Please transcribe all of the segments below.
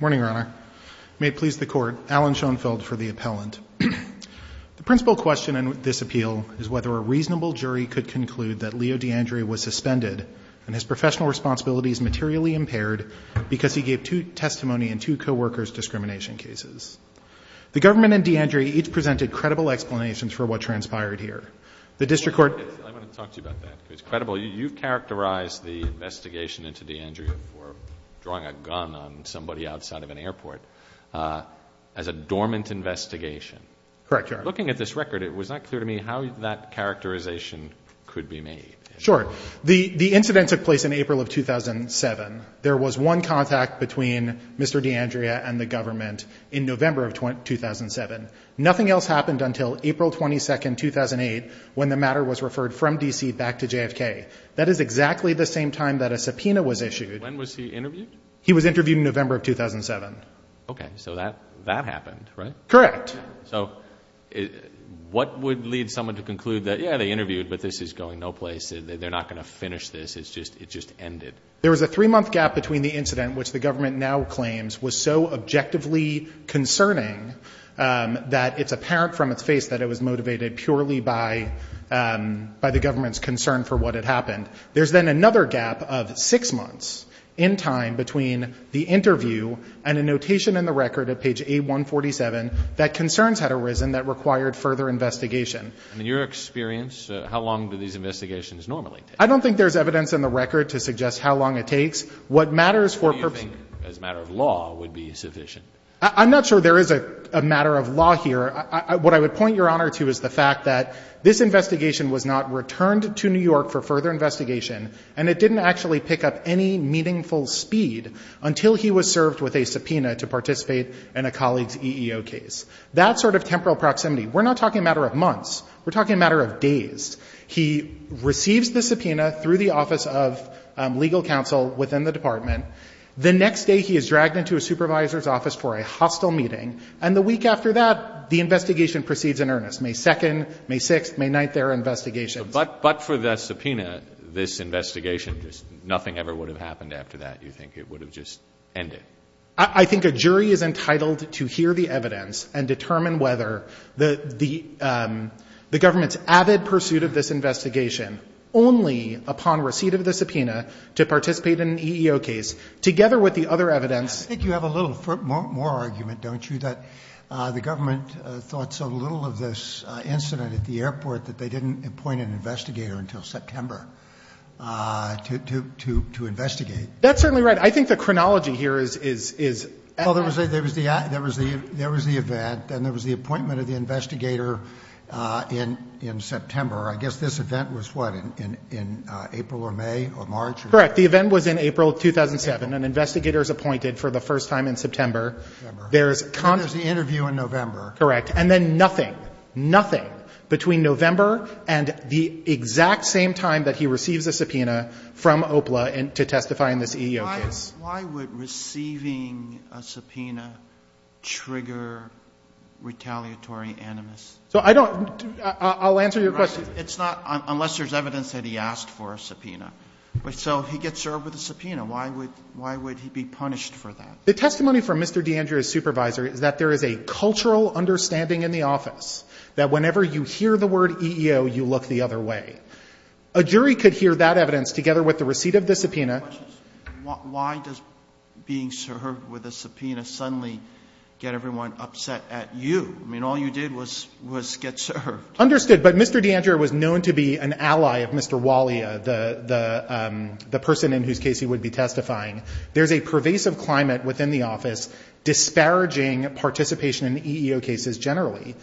Morning, Your Honor. May it please the Court, Alan Schoenfeld for the appellant. The principal question in this appeal is whether a reasonable jury could conclude that Leo D'Andrea was suspended and his professional responsibilities materially impaired because he gave two testimony in two coworkers' discrimination cases. The government and D'Andrea each presented credible explanations for what transpired here. The District Court I want to talk to you about that because it's credible. You've characterized the investigation into D'Andrea for drawing a gun on somebody outside of an airport as a dormant investigation. Correct, Your Honor. Looking at this record, it was not clear to me how that characterization could be made. Sure. The incident took place in April of 2007. There was one contact between Mr. D'Andrea and the government in November of 2007. Nothing else happened until April 22, 2008, when the matter was referred from D.C. back to JFK. That is exactly the same time that a subpoena was issued. When was he interviewed? He was interviewed in November of 2007. Okay. So that happened, right? Correct. So what would lead someone to conclude that, yeah, they interviewed, but this is going no place. They're not going to finish this. It just ended. There was a three-month gap between the incident, which the government now claims was so objectively concerning that it's apparent from its face that it was motivated purely by the government's concern for what had happened. There's then another gap of six months in time between the interview and a notation in the record at page A147 that concerns had arisen that required further investigation. In your experience, how long do these investigations normally take? I don't think there's evidence in the record to suggest how long it takes. What matters for purpose— What do you think, as a matter of law, would be sufficient? I'm not sure there is a matter of law here. What I would point Your Honor to is the fact that this investigation was not returned to New York for further investigation, and it didn't actually pick up any meaningful speed until he was served with a subpoena to participate in a colleague's EEO case. That sort of temporal proximity, we're not talking a matter of months. We're talking a matter of days. He receives the subpoena through the office of legal counsel within the department. The next day, he is dragged into a supervisor's office for a hostile meeting. And the week after that, the investigation proceeds in earnest. May 2nd, May 6th, May 9th, there are investigations. But for the subpoena, this investigation, just nothing ever would have happened after that, you think? It would have just ended. I think a jury is entitled to hear the evidence and determine whether the government's avid pursuit of this investigation, only upon receipt of the subpoena to participate in an EEO case, together with the other evidence— I think you have a little more argument, don't you, that the government thought so little of this incident at the airport that they didn't appoint an investigator until September to investigate. That's certainly right. I think the chronology here is— Well, there was the event, and there was the appointment of the investigator in September. I guess this event was, what, in April or May or March? Correct. The event was in April 2007. An investigator is appointed for the first time in September. There is— And there's the interview in November. Correct. And then nothing, nothing between November and the exact same time that he receives a subpoena from OPLA to testify in this EEO case. Why would receiving a subpoena trigger retaliatory animus? So I don't—I'll answer your question. It's not—unless there's evidence that he asked for a subpoena. So he gets served with a subpoena. Why would he be punished for that? The testimony from Mr. D'Andrea's supervisor is that there is a cultural understanding in the office that whenever you hear the word EEO, you look the other way. A jury could hear that evidence together with the receipt of the subpoena. My question is, why does being served with a subpoena suddenly get everyone upset at you? I mean, all you did was get served. Understood. But Mr. D'Andrea was known to be an ally of Mr. Walia, the person in whose case he would be testifying. There's a pervasive climate within the office disparaging participation in EEO cases generally.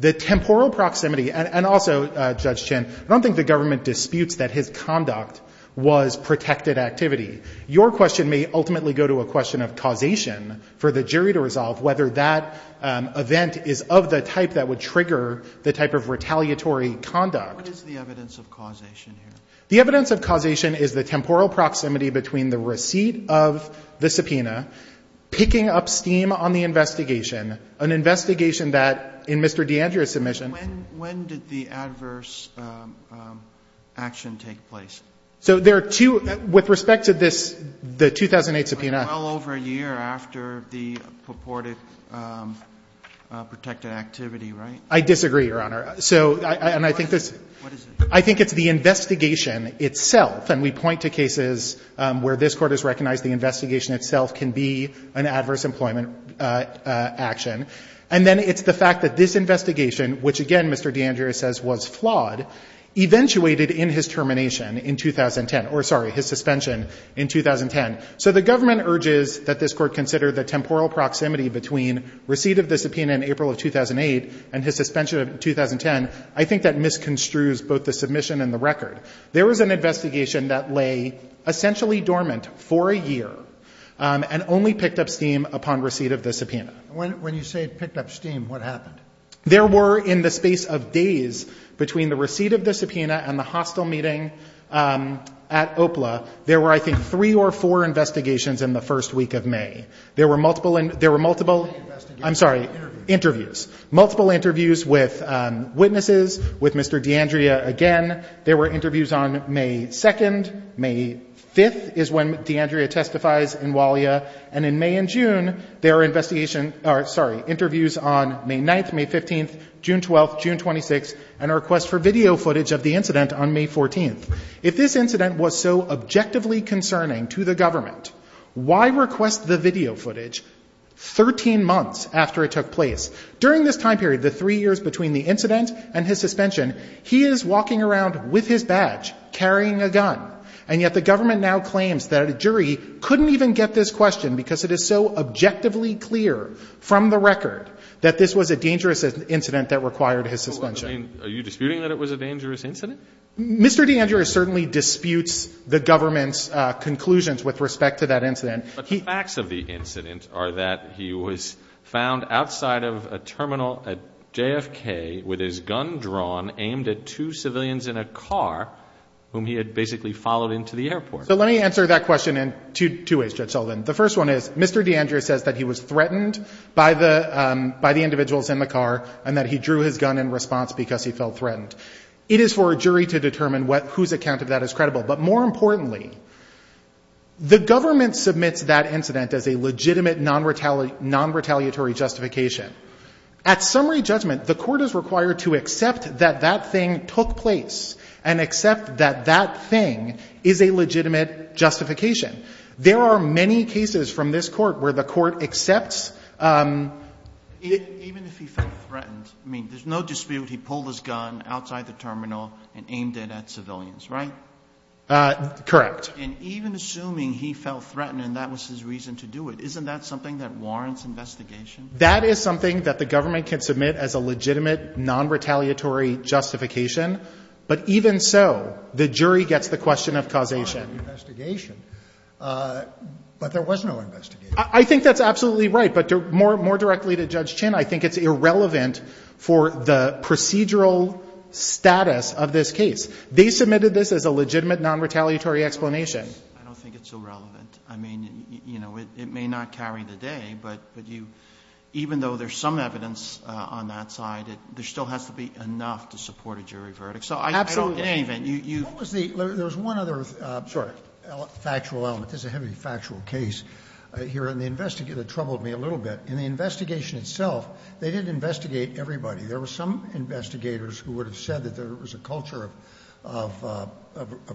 The temporal proximity—and also, Judge Chin, I don't think the government disputes that his conduct was protected activity. Your question may ultimately go to a question of causation for the jury to resolve whether that event is of the type that would trigger the type of retaliatory conduct. What is the evidence of causation here? The evidence of causation is the temporal proximity between the receipt of the subpoena, picking up steam on the investigation, an investigation that, in Mr. D'Andrea's submission— When did the adverse action take place? So there are two. With respect to this, the 2008 subpoena— Well over a year after the purported protected activity, right? I disagree, Your Honor. So, and I think this— What is it? I think it's the investigation itself. And we point to cases where this Court has recognized the investigation itself can be an adverse employment action. And then it's the fact that this investigation, which, again, Mr. D'Andrea says was flawed, eventuated in his termination in 2010—or, sorry, his suspension in 2010. So the government urges that this Court consider the temporal proximity between receipt of the subpoena in April of 2008 and his suspension in 2010. I think that misconstrues both the submission and the record. There was an investigation that lay essentially dormant for a year and only picked up steam upon receipt of the subpoena. When you say picked up steam, what happened? There were, in the space of days between the receipt of the subpoena and the hostile meeting at OPLA, there were, I think, three or four investigations in the first week of May. There were multiple— There were many investigations. I'm sorry. Interviews. Interviews. Multiple interviews with witnesses, with Mr. D'Andrea again. There were interviews on May 2nd. May 5th is when D'Andrea testifies in WALIA. And in May and June, there are investigation—or, sorry, interviews on May 9th, May 15th, June 12th, June 26th, and a request for video footage of the incident on May 14th. If this incident was so objectively concerning to the government, why request the video footage 13 months after it took place? During this time period, the three years between the incident and his suspension, he is walking around with his badge, carrying a gun. And yet the government now claims that a jury couldn't even get this question because it is so objectively clear from the record that this was a dangerous incident that required his suspension. Well, I mean, are you disputing that it was a dangerous incident? Mr. D'Andrea certainly disputes the government's conclusions with respect to that incident. But the facts of the incident are that he was found outside of a terminal at JFK with his gun drawn aimed at two civilians in a car whom he had basically followed into the airport. So let me answer that question in two ways, Judge Sullivan. The first one is, Mr. D'Andrea says that he was threatened by the individuals in the car and that he drew his gun in response because he felt threatened. But more importantly, the government submits that incident as a legitimate non-retaliatory justification. At summary judgment, the court is required to accept that that thing took place and accept that that thing is a legitimate justification. There are many cases from this court where the court accepts it. Even if he felt threatened, I mean, there's no dispute he pulled his gun outside the terminal and aimed it at civilians, right? Correct. And even assuming he felt threatened and that was his reason to do it, isn't that something that warrants investigation? That is something that the government can submit as a legitimate non-retaliatory justification, but even so, the jury gets the question of causation. But there was no investigation. I think that's absolutely right. But more directly to Judge Chinn, I think it's irrelevant for the procedural status of this case. They submitted this as a legitimate non-retaliatory explanation. I don't think it's irrelevant. I mean, you know, it may not carry the day, but you, even though there's some evidence on that side, there still has to be enough to support a jury verdict. So I don't believe it. Absolutely. There was one other factual element. This is a heavy factual case here, and the investigator troubled me a little bit. In the investigation itself, they didn't investigate everybody. There were some investigators who would have said that there was a culture of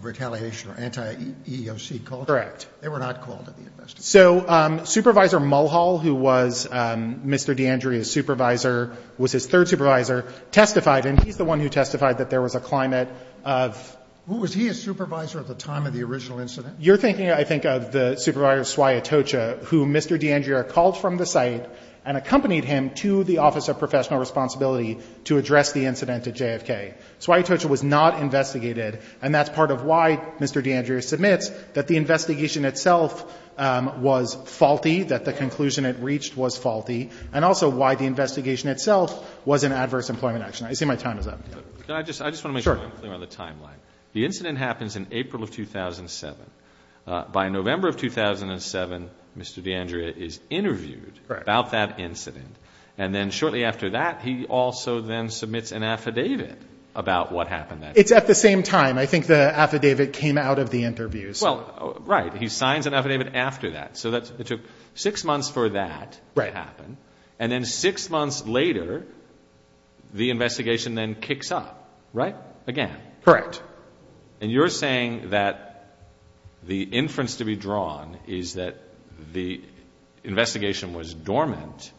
retaliation or anti-EOC culture. Correct. They were not called to the investigation. So Supervisor Mulhall, who was Mr. D'Andrea's supervisor, was his third supervisor, testified, and he's the one who testified that there was a climate of ---- Was he a supervisor at the time of the original incident? You're thinking, I think, of the Supervisor Swayatocha, who Mr. D'Andrea called from the site and accompanied him to the Office of Professional Responsibility to address the incident at JFK. Swayatocha was not investigated, and that's part of why Mr. D'Andrea submits, that the investigation itself was faulty, that the conclusion it reached was faulty, and also why the investigation itself was an adverse employment action. I see my time is up. I just want to make sure I'm clear on the timeline. The incident happens in April of 2007. By November of 2007, Mr. D'Andrea is interviewed about that incident, and then shortly after that, he also then submits an affidavit about what happened. It's at the same time. I think the affidavit came out of the interview. Well, right. He signs an affidavit after that. So it took six months for that to happen, and then six months later, the investigation then kicks up, right? Again. Correct. And you're saying that the inference to be drawn is that the investigation was dormant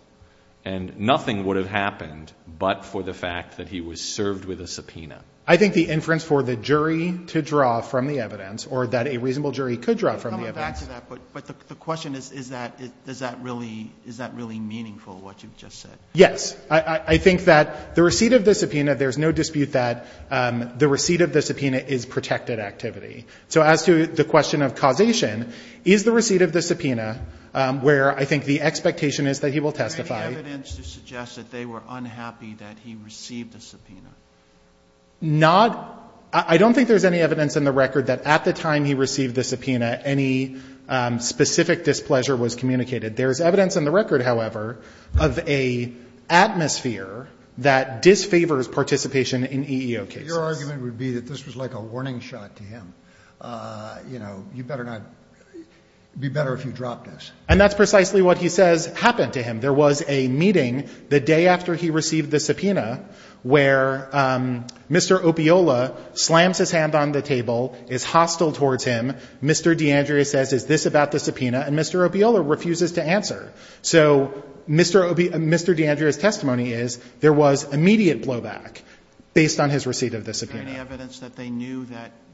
and nothing would have happened but for the fact that he was served with a subpoena. I think the inference for the jury to draw from the evidence, or that a reasonable jury could draw from the evidence. But the question is, is that really meaningful, what you've just said? Yes. I think that the receipt of the subpoena, there's no dispute that the receipt of the subpoena is protected activity. So as to the question of causation, is the receipt of the subpoena, where I think the expectation is that he will testify. Is there any evidence to suggest that they were unhappy that he received a subpoena? Not. I don't think there's any evidence in the record that at the time he received the subpoena, any specific displeasure was communicated. There's evidence in the record, however, of an atmosphere that disfavors participation in EEO cases. Your argument would be that this was like a warning shot to him. You know, you better not, it would be better if you dropped this. And that's precisely what he says happened to him. There was a meeting the day after he received the subpoena where Mr. Opiola slams his hand on the table, is hostile towards him. Mr. D'Andrea says, is this about the subpoena? And Mr. Opiola refuses to answer. So Mr. D'Andrea's testimony is there was immediate blowback based on his receipt of the subpoena. Is there any evidence that they knew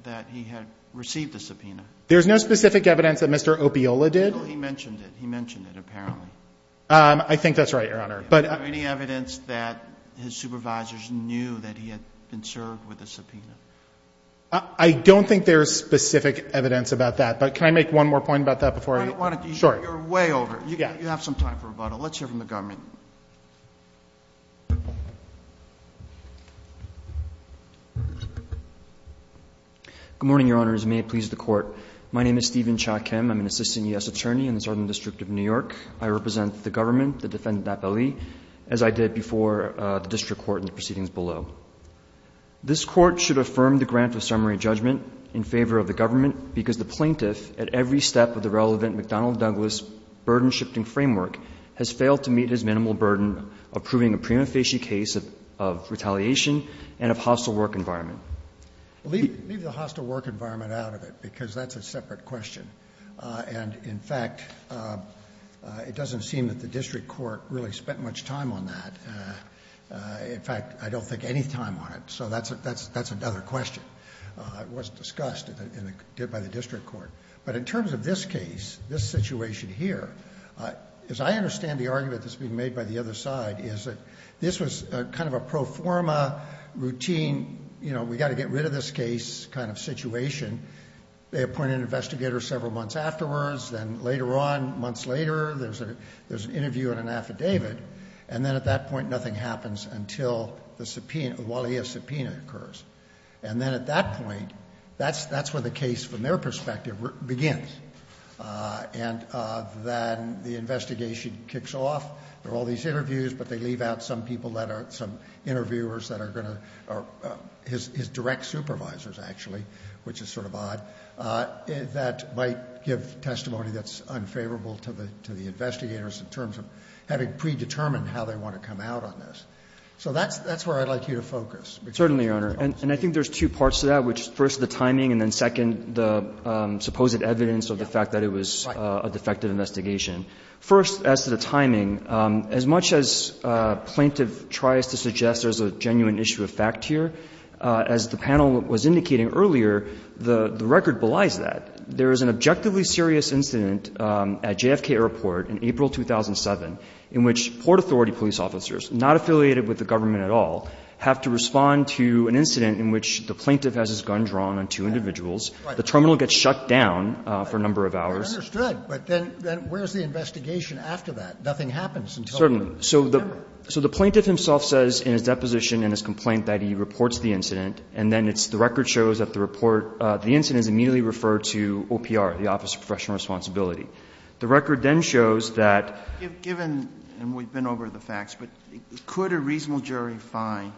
that he had received a subpoena? There's no specific evidence that Mr. Opiola did. Well, he mentioned it. He mentioned it, apparently. I think that's right, Your Honor. Is there any evidence that his supervisors knew that he had been served with a subpoena? I don't think there's specific evidence about that, but can I make one more point about that before I? I don't want to. Sure. You're way over. You have some time for rebuttal. Let's hear from the government. Good morning, Your Honors. May it please the Court. My name is Stephen Cha-Kim. I'm an assistant U.S. attorney in the Southern District of New York. I represent the government that defended Napoli, as I did before the district court in the proceedings below. This Court should affirm the grant of summary judgment in favor of the government because the plaintiff, at every step of the relevant McDonnell-Douglas burden-shifting framework, has failed to meet his minimal burden of proving a prima facie case of retaliation and of hostile work environment. Leave the hostile work environment out of it because that's a separate question. And, in fact, it doesn't seem that the district court really spent much time on that. In fact, I don't think any time on it. So that's another question. It was discussed and did by the district court. But in terms of this case, this situation here, as I understand the argument that's being made by the other side is that this was kind of a pro forma routine, you know, we got to get rid of this case kind of situation. They appointed an investigator several months afterwards. Then later on, months later, there's an interview and an affidavit. And then at that point, nothing happens until the subpoena occurs. And then at that point, that's where the case, from their perspective, begins. And then the investigation kicks off. There are all these interviews, but they leave out some people that are some interviewers that are going to, his direct supervisors, actually, which is sort of odd, that might give testimony that's unfavorable to the investigators in terms of having to predetermine how they want to come out on this. So that's where I'd like you to focus. Gershengorn Certainly, Your Honor. And I think there's two parts to that, which is first, the timing, and then second, the supposed evidence of the fact that it was a defective investigation. First, as to the timing, as much as plaintiff tries to suggest there's a genuine issue of fact here, as the panel was indicating earlier, the record belies that. There is an objectively serious incident at JFK Airport in April 2007 in which Port Authority police officers, not affiliated with the government at all, have to respond to an incident in which the plaintiff has his gun drawn on two individuals. The terminal gets shut down for a number of hours. Scalia I understood. But then where's the investigation after that? Nothing happens until the subpoena occurs. Gershengorn Certainly. So the plaintiff himself says in his deposition and his complaint that he reports the incident. And then it's the record shows that the report, the incident is immediately referred to OPR, the Office of Professional Responsibility. The record then shows that. Sotomayor Given, and we've been over the facts, but could a reasonable jury find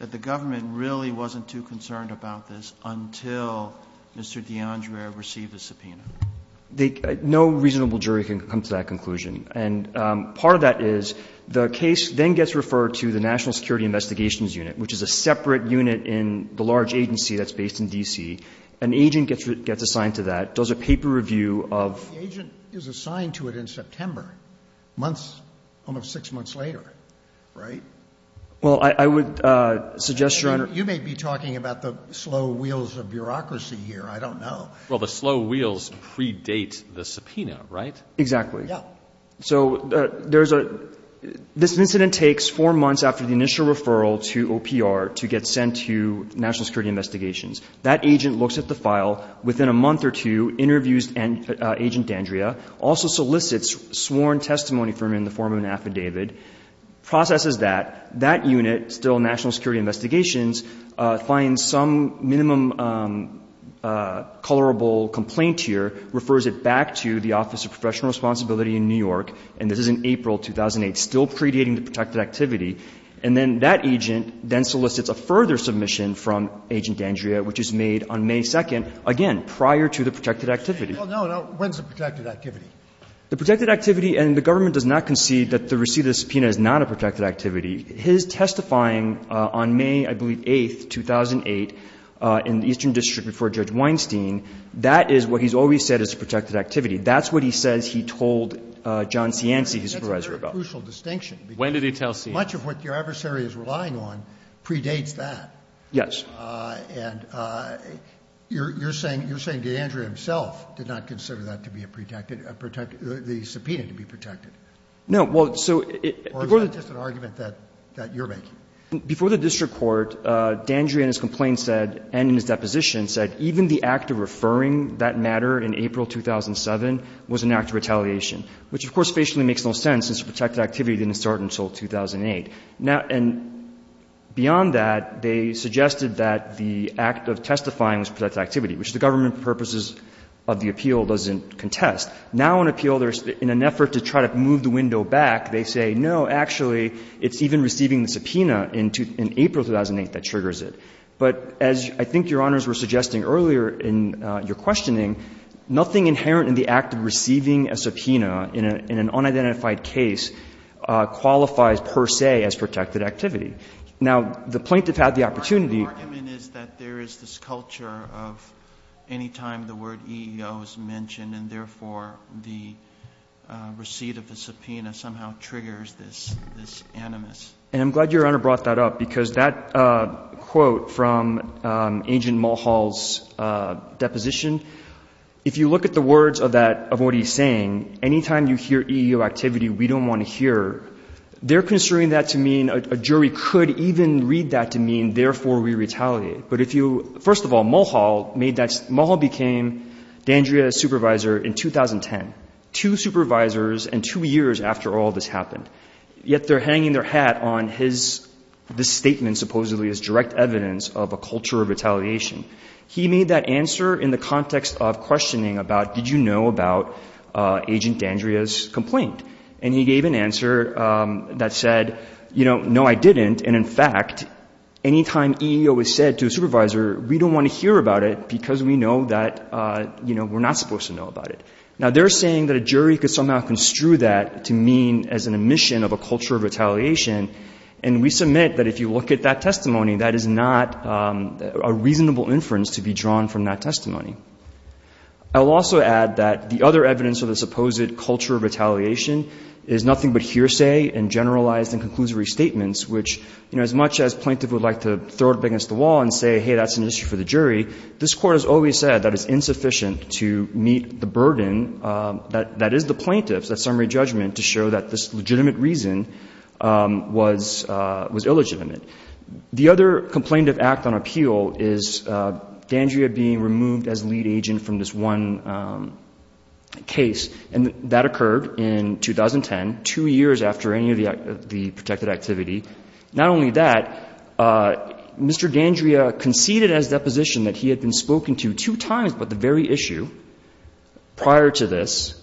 that the government really wasn't too concerned about this until Mr. D'Andrea received the subpoena? Gershengorn No reasonable jury can come to that conclusion. And part of that is the case then gets referred to the National Security Investigations Unit, which is a separate unit in the large agency that's based in D.C. An agent gets assigned to that, does a paper review of ---- Scalia The agent is assigned to it in September, months, almost six months later, right? Gershengorn Well, I would suggest, Your Honor ---- Scalia You may be talking about the slow wheels of bureaucracy here. I don't know. Breyer Well, the slow wheels predate the subpoena, right? Gershengorn Exactly. Scalia Yeah. Gershengorn So there's a ---- this incident takes four months after the initial referral to OPR to get sent to National Security Investigations. That agent looks at the file. Within a month or two, interviews Agent D'Andrea, also solicits sworn testimony from him in the form of an affidavit, processes that. That unit, still National Security Investigations, finds some minimum colorable complaint here, refers it back to the Office of Professional Responsibility in New York, and this is in April 2008, still predating the protected activity. And then that agent then solicits a further submission from Agent D'Andrea, which is made on May 2nd, again, prior to the protected activity. Scalia Well, no, no. When's the protected activity? Gershengorn The protected activity, and the government does not concede that the receipt of the subpoena is not a protected activity. His testifying on May, I believe, 8th, 2008, in the Eastern District before Judge Weinstein, that is what he's always said is a protected activity. That's what he says he told John Cianci, his supervisor, about. Scalia That's a very crucial distinction. Gershengorn When did he tell Cianci? Scalia Much of what your adversary is relying on predates that. Gershengorn Yes. Scalia And you're saying D'Andrea himself did not consider that to be a protected or the subpoena to be protected? Gershengorn No. Well, so it goes to the Court. Scalia Or is that just an argument that you're making? Gershengorn Before the district court, D'Andrea in his complaint said and in his deposition said even the act of referring that matter in April 2007 was an act of retaliation, which of course facially makes no sense since the protected activity didn't start until 2008. Now, and beyond that, they suggested that the act of testifying was protected activity, which the government purposes of the appeal doesn't contest. Now in an appeal, in an effort to try to move the window back, they say, no, actually, it's even receiving the subpoena in April 2008 that triggers it. But as I think Your Honors were suggesting earlier in your questioning, nothing inherent in the act of receiving a subpoena in an unidentified case qualifies per se as protected activity. Now, the plaintiff had the opportunity. Alito The argument is that there is this culture of any time the word EEO is mentioned and therefore the receipt of the subpoena somehow triggers this animus. Gershengorn And I'm glad Your Honor brought that up, because that quote from Agent Mulhall's deposition, if you look at the words of that, of what he's saying, any time you hear EEO activity we don't want to hear, they're construing that to mean a jury could even read that to mean therefore we retaliate. But if you, first of all, Mulhall made that, Mulhall became Dandrea's supervisor in 2010, two supervisors and two years after all this happened. Yet they're hanging their hat on his, this statement supposedly is direct evidence of a culture of retaliation. He made that answer in the context of questioning about did you know about Agent Dandrea's complaint? And he gave an answer that said, you know, no, I didn't. And in fact, any time EEO is said to a supervisor, we don't want to hear about it because we know that, you know, we're not supposed to know about it. Now, they're saying that a jury could somehow construe that to mean as an admission of a culture of retaliation. And we submit that if you look at that testimony, that is not a reasonable inference to be drawn from that testimony. I will also add that the other evidence of the supposed culture of retaliation is nothing but hearsay and generalized and conclusory statements, which, you know, as much as plaintiff would like to throw it up against the wall and say, hey, that's an issue for the jury, this Court has always said that it's insufficient to meet the burden that is the plaintiff's, that summary judgment, to show that this legitimate reason was illegitimate. The other complaint of act on appeal is D'Andrea being removed as lead agent from this one case. And that occurred in 2010, two years after any of the protected activity. Not only that, Mr. D'Andrea conceded as deposition that he had been spoken to two times about the very issue prior to this.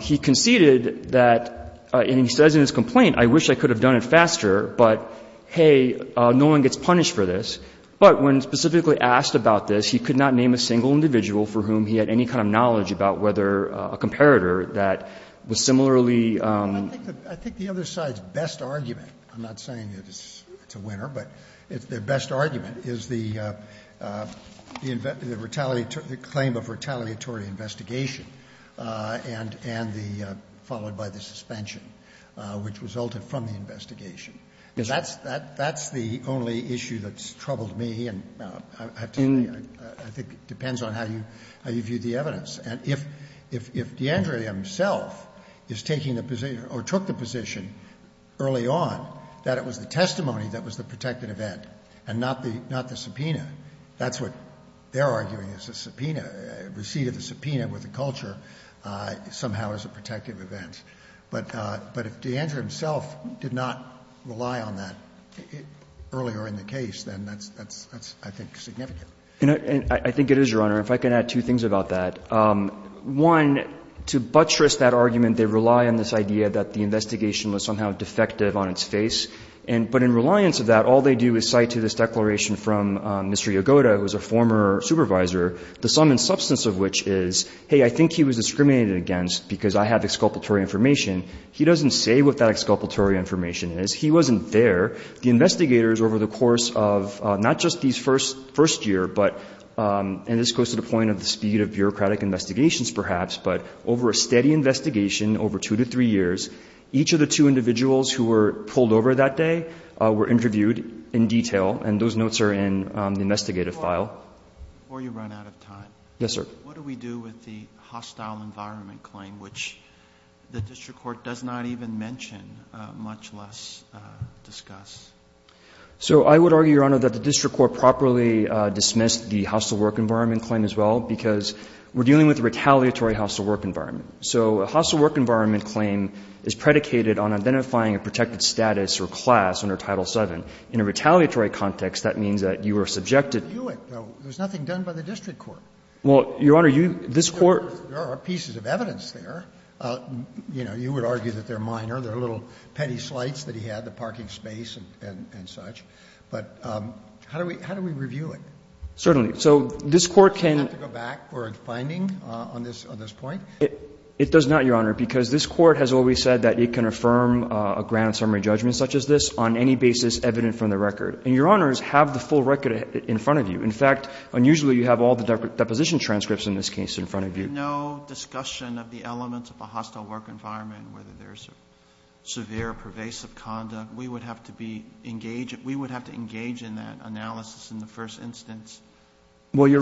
He conceded that, and he says in his complaint, I wish I could have done it faster, but, hey, no one gets punished for this. But when specifically asked about this, he could not name a single individual for whom he had any kind of knowledge about whether a comparator that was similarly ---- Scalia, I think the other side's best argument, I'm not saying it's a winner, but their best argument is the claim of retaliatory investigation and the, followed by the suspension, which resulted from the investigation. That's the only issue that's troubled me, and I think it depends on how you view the evidence. And if D'Andrea himself is taking the position or took the position early on that was the testimony that was the protected event and not the subpoena, that's what they're arguing is a subpoena, receipt of the subpoena with the culture somehow as a protective event. But if D'Andrea himself did not rely on that earlier in the case, then that's, I think, significant. And I think it is, Your Honor. If I can add two things about that. One, to buttress that argument, they rely on this idea that the investigation was somehow defective on its face. But in reliance of that, all they do is cite to this declaration from Mr. Yagoda, who was a former supervisor, the sum and substance of which is, hey, I think he was discriminated against because I have exculpatory information. He doesn't say what that exculpatory information is. He wasn't there. The investigators over the course of not just these first year, but, and this goes to the point of the speed of bureaucratic investigations perhaps, but over a steady investigation over two to three years, each of the two individuals who were pulled over that day were interviewed in detail. And those notes are in the investigative file. Before you run out of time. Yes, sir. What do we do with the hostile environment claim, which the district court does not even mention, much less discuss? So I would argue, Your Honor, that the district court properly dismissed the hostile work environment claim as well because we're dealing with a retaliatory hostile work environment. So a hostile work environment claim is predicated on identifying a protected status or class under Title VII. In a retaliatory context, that means that you are subjected to. There's nothing done by the district court. Well, Your Honor, this Court. There are pieces of evidence there. You know, you would argue that they're minor. They're little petty slights that he had, the parking space and such. But how do we review it? Certainly. So this Court can. Does it have to go back for a finding on this point? It does not, Your Honor, because this Court has always said that it can affirm a grand summary judgment such as this on any basis evident from the record. And Your Honors have the full record in front of you. In fact, unusually you have all the deposition transcripts in this case in front of you. There's no discussion of the elements of a hostile work environment, whether there's severe pervasive conduct. We would have to be engaged. We would have to engage in that analysis in the first instance. Well,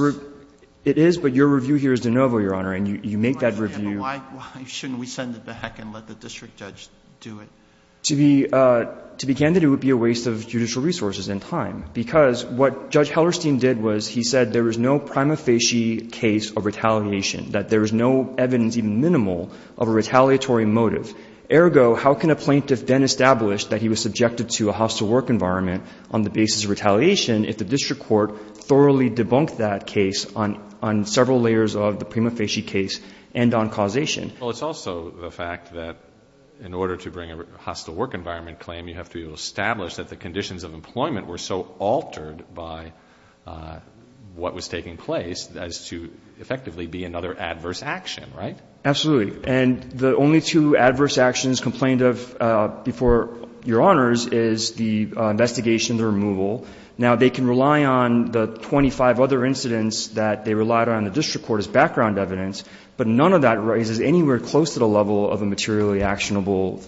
it is, but your review here is de novo, Your Honor, and you make that review. Why shouldn't we send it back and let the district judge do it? To be candid, it would be a waste of judicial resources and time, because what Judge Hellerstein did was he said there is no prima facie case of retaliation, that there is no evidence, even minimal, of a retaliatory motive. Ergo, how can a plaintiff then establish that he was subjected to a hostile work environment on the basis of retaliation if the district court thoroughly debunked that case on several layers of the prima facie case and on causation? Well, it's also the fact that in order to bring a hostile work environment claim, you have to establish that the conditions of employment were so altered by what was taking place as to effectively be another adverse action, right? Absolutely. And the only two adverse actions complained of before Your Honors is the investigation and the removal. Now, they can rely on the 25 other incidents that they relied on in the district court as background evidence, but none of that raises anywhere close to the level of a materially actionable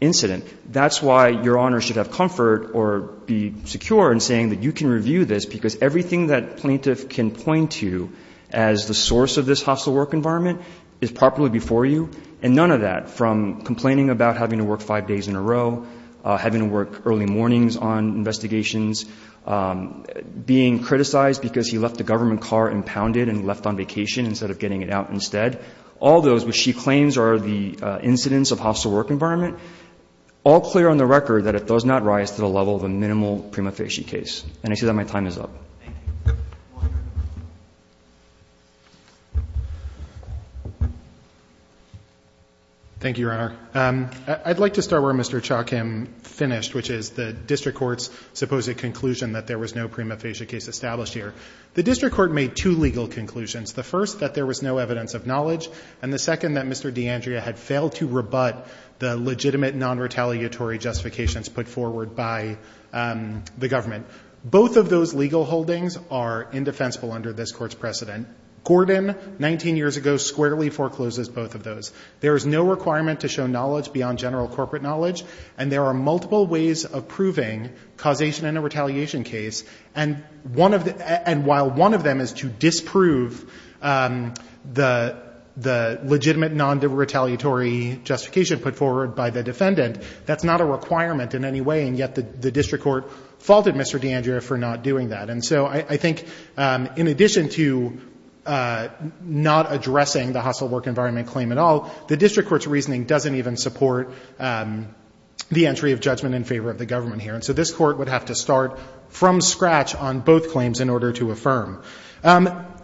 incident. That's why Your Honors should have comfort or be secure in saying that you can review this, because everything that plaintiff can point to as the source of this hostile work environment is properly before you. And none of that, from complaining about having to work five days in a row, having to work early mornings on investigations, being criticized because he left a government car impounded and left on vacation instead of getting it out instead, all those which she claims are the incidents of hostile work environment, all clear on the record that it does not rise to the level of a minimal prima facie case. And I say that my time is up. Thank you. Thank you, Your Honor. I'd like to start where Mr. Chokhim finished, which is the district court's supposed conclusion that there was no prima facie case established here. The district court made two legal conclusions. The first, that there was no evidence of knowledge. And the second, that Mr. D'Andrea had failed to rebut the legitimate non-retaliatory justifications put forward by the government. Both of those legal holdings are indefensible under this Court's precedent. Gordon, 19 years ago, squarely forecloses both of those. There is no requirement to show knowledge beyond general corporate knowledge. And there are multiple ways of proving causation in a retaliation case. And while one of them is to disprove the legitimate non-retaliatory justification put forward by the defendant, that's not a requirement in any way. And yet the district court faulted Mr. D'Andrea for not doing that. And so I think in addition to not addressing the hostile work environment claim at all, the district court's reasoning doesn't even support the entry of judgment in favor of the government here. And so this Court would have to start from scratch on both claims in order to affirm.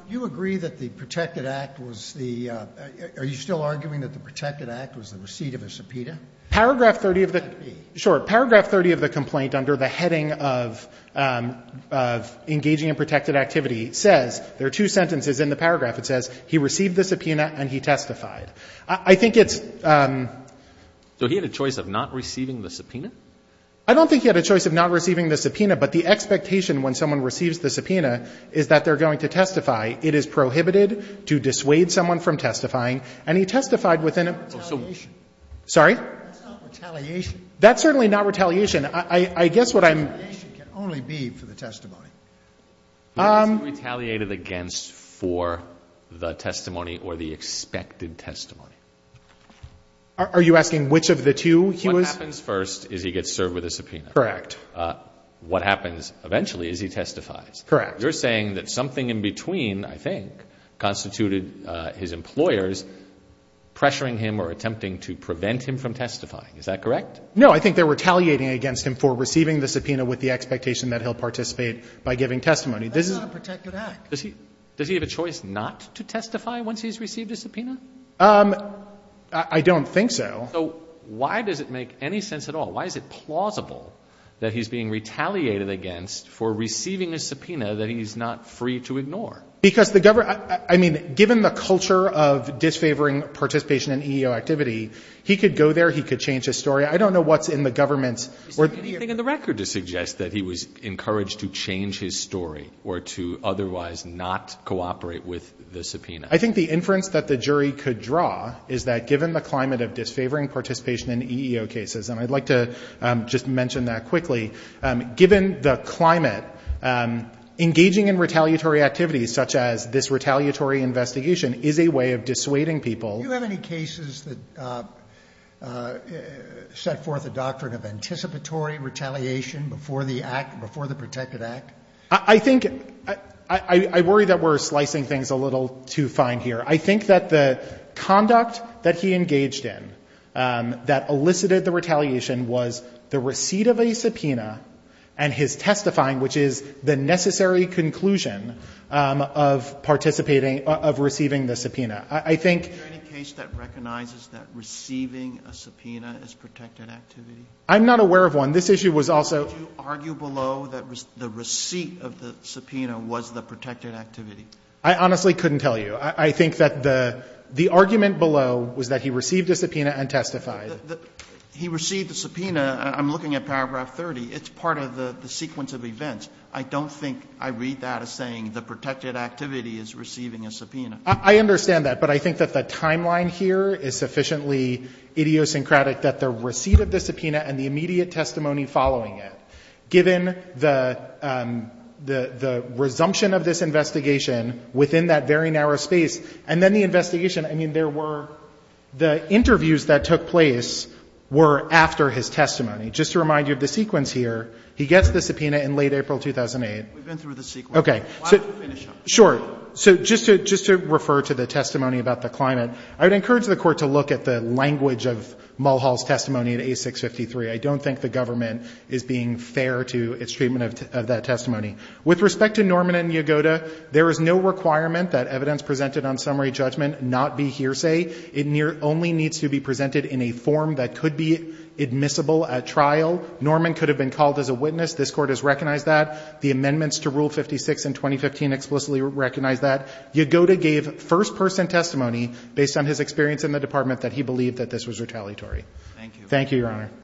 You agree that the Protected Act was the – are you still arguing that the Protected Act was the receipt of a subpoena? Paragraph 30 of the – sure. Paragraph 30 of the complaint under the heading of engaging in protected activity says – there are two sentences in the paragraph. It says he received the subpoena and he testified. I think it's – So he had a choice of not receiving the subpoena? I don't think he had a choice of not receiving the subpoena, but the expectation when someone receives the subpoena is that they're going to testify. It is prohibited to dissuade someone from testifying. And he testified within a – Oh, so – Sorry? That's not retaliation. That's certainly not retaliation. I guess what I'm – Retaliation can only be for the testimony. It's retaliated against for the testimony or the expected testimony. Are you asking which of the two he was – What happens first is he gets served with a subpoena. Correct. What happens eventually is he testifies. Correct. You're saying that something in between, I think, constituted his employers pressuring him or attempting to prevent him from testifying. Is that correct? No. I think they're retaliating against him for receiving the subpoena with the expectation that he'll participate by giving testimony. That's not a protected act. Does he have a choice not to testify once he's received a subpoena? I don't think so. So why does it make any sense at all? Why is it plausible that he's being retaliated against for receiving a subpoena that he's not free to ignore? Because the government – I mean, given the culture of disfavoring participation in EEO activity, he could go there, he could change his story. I don't know what's in the government's – Do you see anything in the record to suggest that he was encouraged to change his story or to otherwise not cooperate with the subpoena? I think the inference that the jury could draw is that given the climate of disfavoring participation in EEO cases, and I'd like to just mention that quickly, given the climate, engaging in retaliatory activity, such as this retaliatory investigation, is a way of dissuading people. Do you have any cases that set forth a doctrine of anticipatory retaliation before the act – before the protected act? I think – I worry that we're slicing things a little too fine here. I think that the conduct that he engaged in that elicited the retaliation was the receipt of a subpoena and his testifying, which is the necessary conclusion of participating – of receiving the subpoena. I think – Is there any case that recognizes that receiving a subpoena is protected activity? I'm not aware of one. This issue was also – Would you argue below that the receipt of the subpoena was the protected activity? I honestly couldn't tell you. I think that the argument below was that he received a subpoena and testified. He received a subpoena. I'm looking at paragraph 30. It's part of the sequence of events. I don't think I read that as saying the protected activity is receiving a subpoena. I understand that, but I think that the timeline here is sufficiently idiosyncratic that the receipt of the subpoena and the immediate testimony following it, given the resumption of this investigation within that very narrow space, and then the investigation. I mean, there were – the interviews that took place were after his testimony. Just to remind you of the sequence here, he gets the subpoena in late April 2008. We've been through the sequence. Okay. Why don't we finish up? Sure. So just to refer to the testimony about the climate, I would encourage the Court to look at the language of Mulhall's testimony in A653. I don't think the government is being fair to its treatment of that testimony. With respect to Norman and Yagoda, there is no requirement that evidence presented on summary judgment not be hearsay. It only needs to be presented in a form that could be admissible at trial. Norman could have been called as a witness. This Court has recognized that. The amendments to Rule 56 in 2015 explicitly recognize that. Yagoda gave first-person testimony, based on his experience in the Department, that he believed that this was retaliatory. Thank you, Your Honor.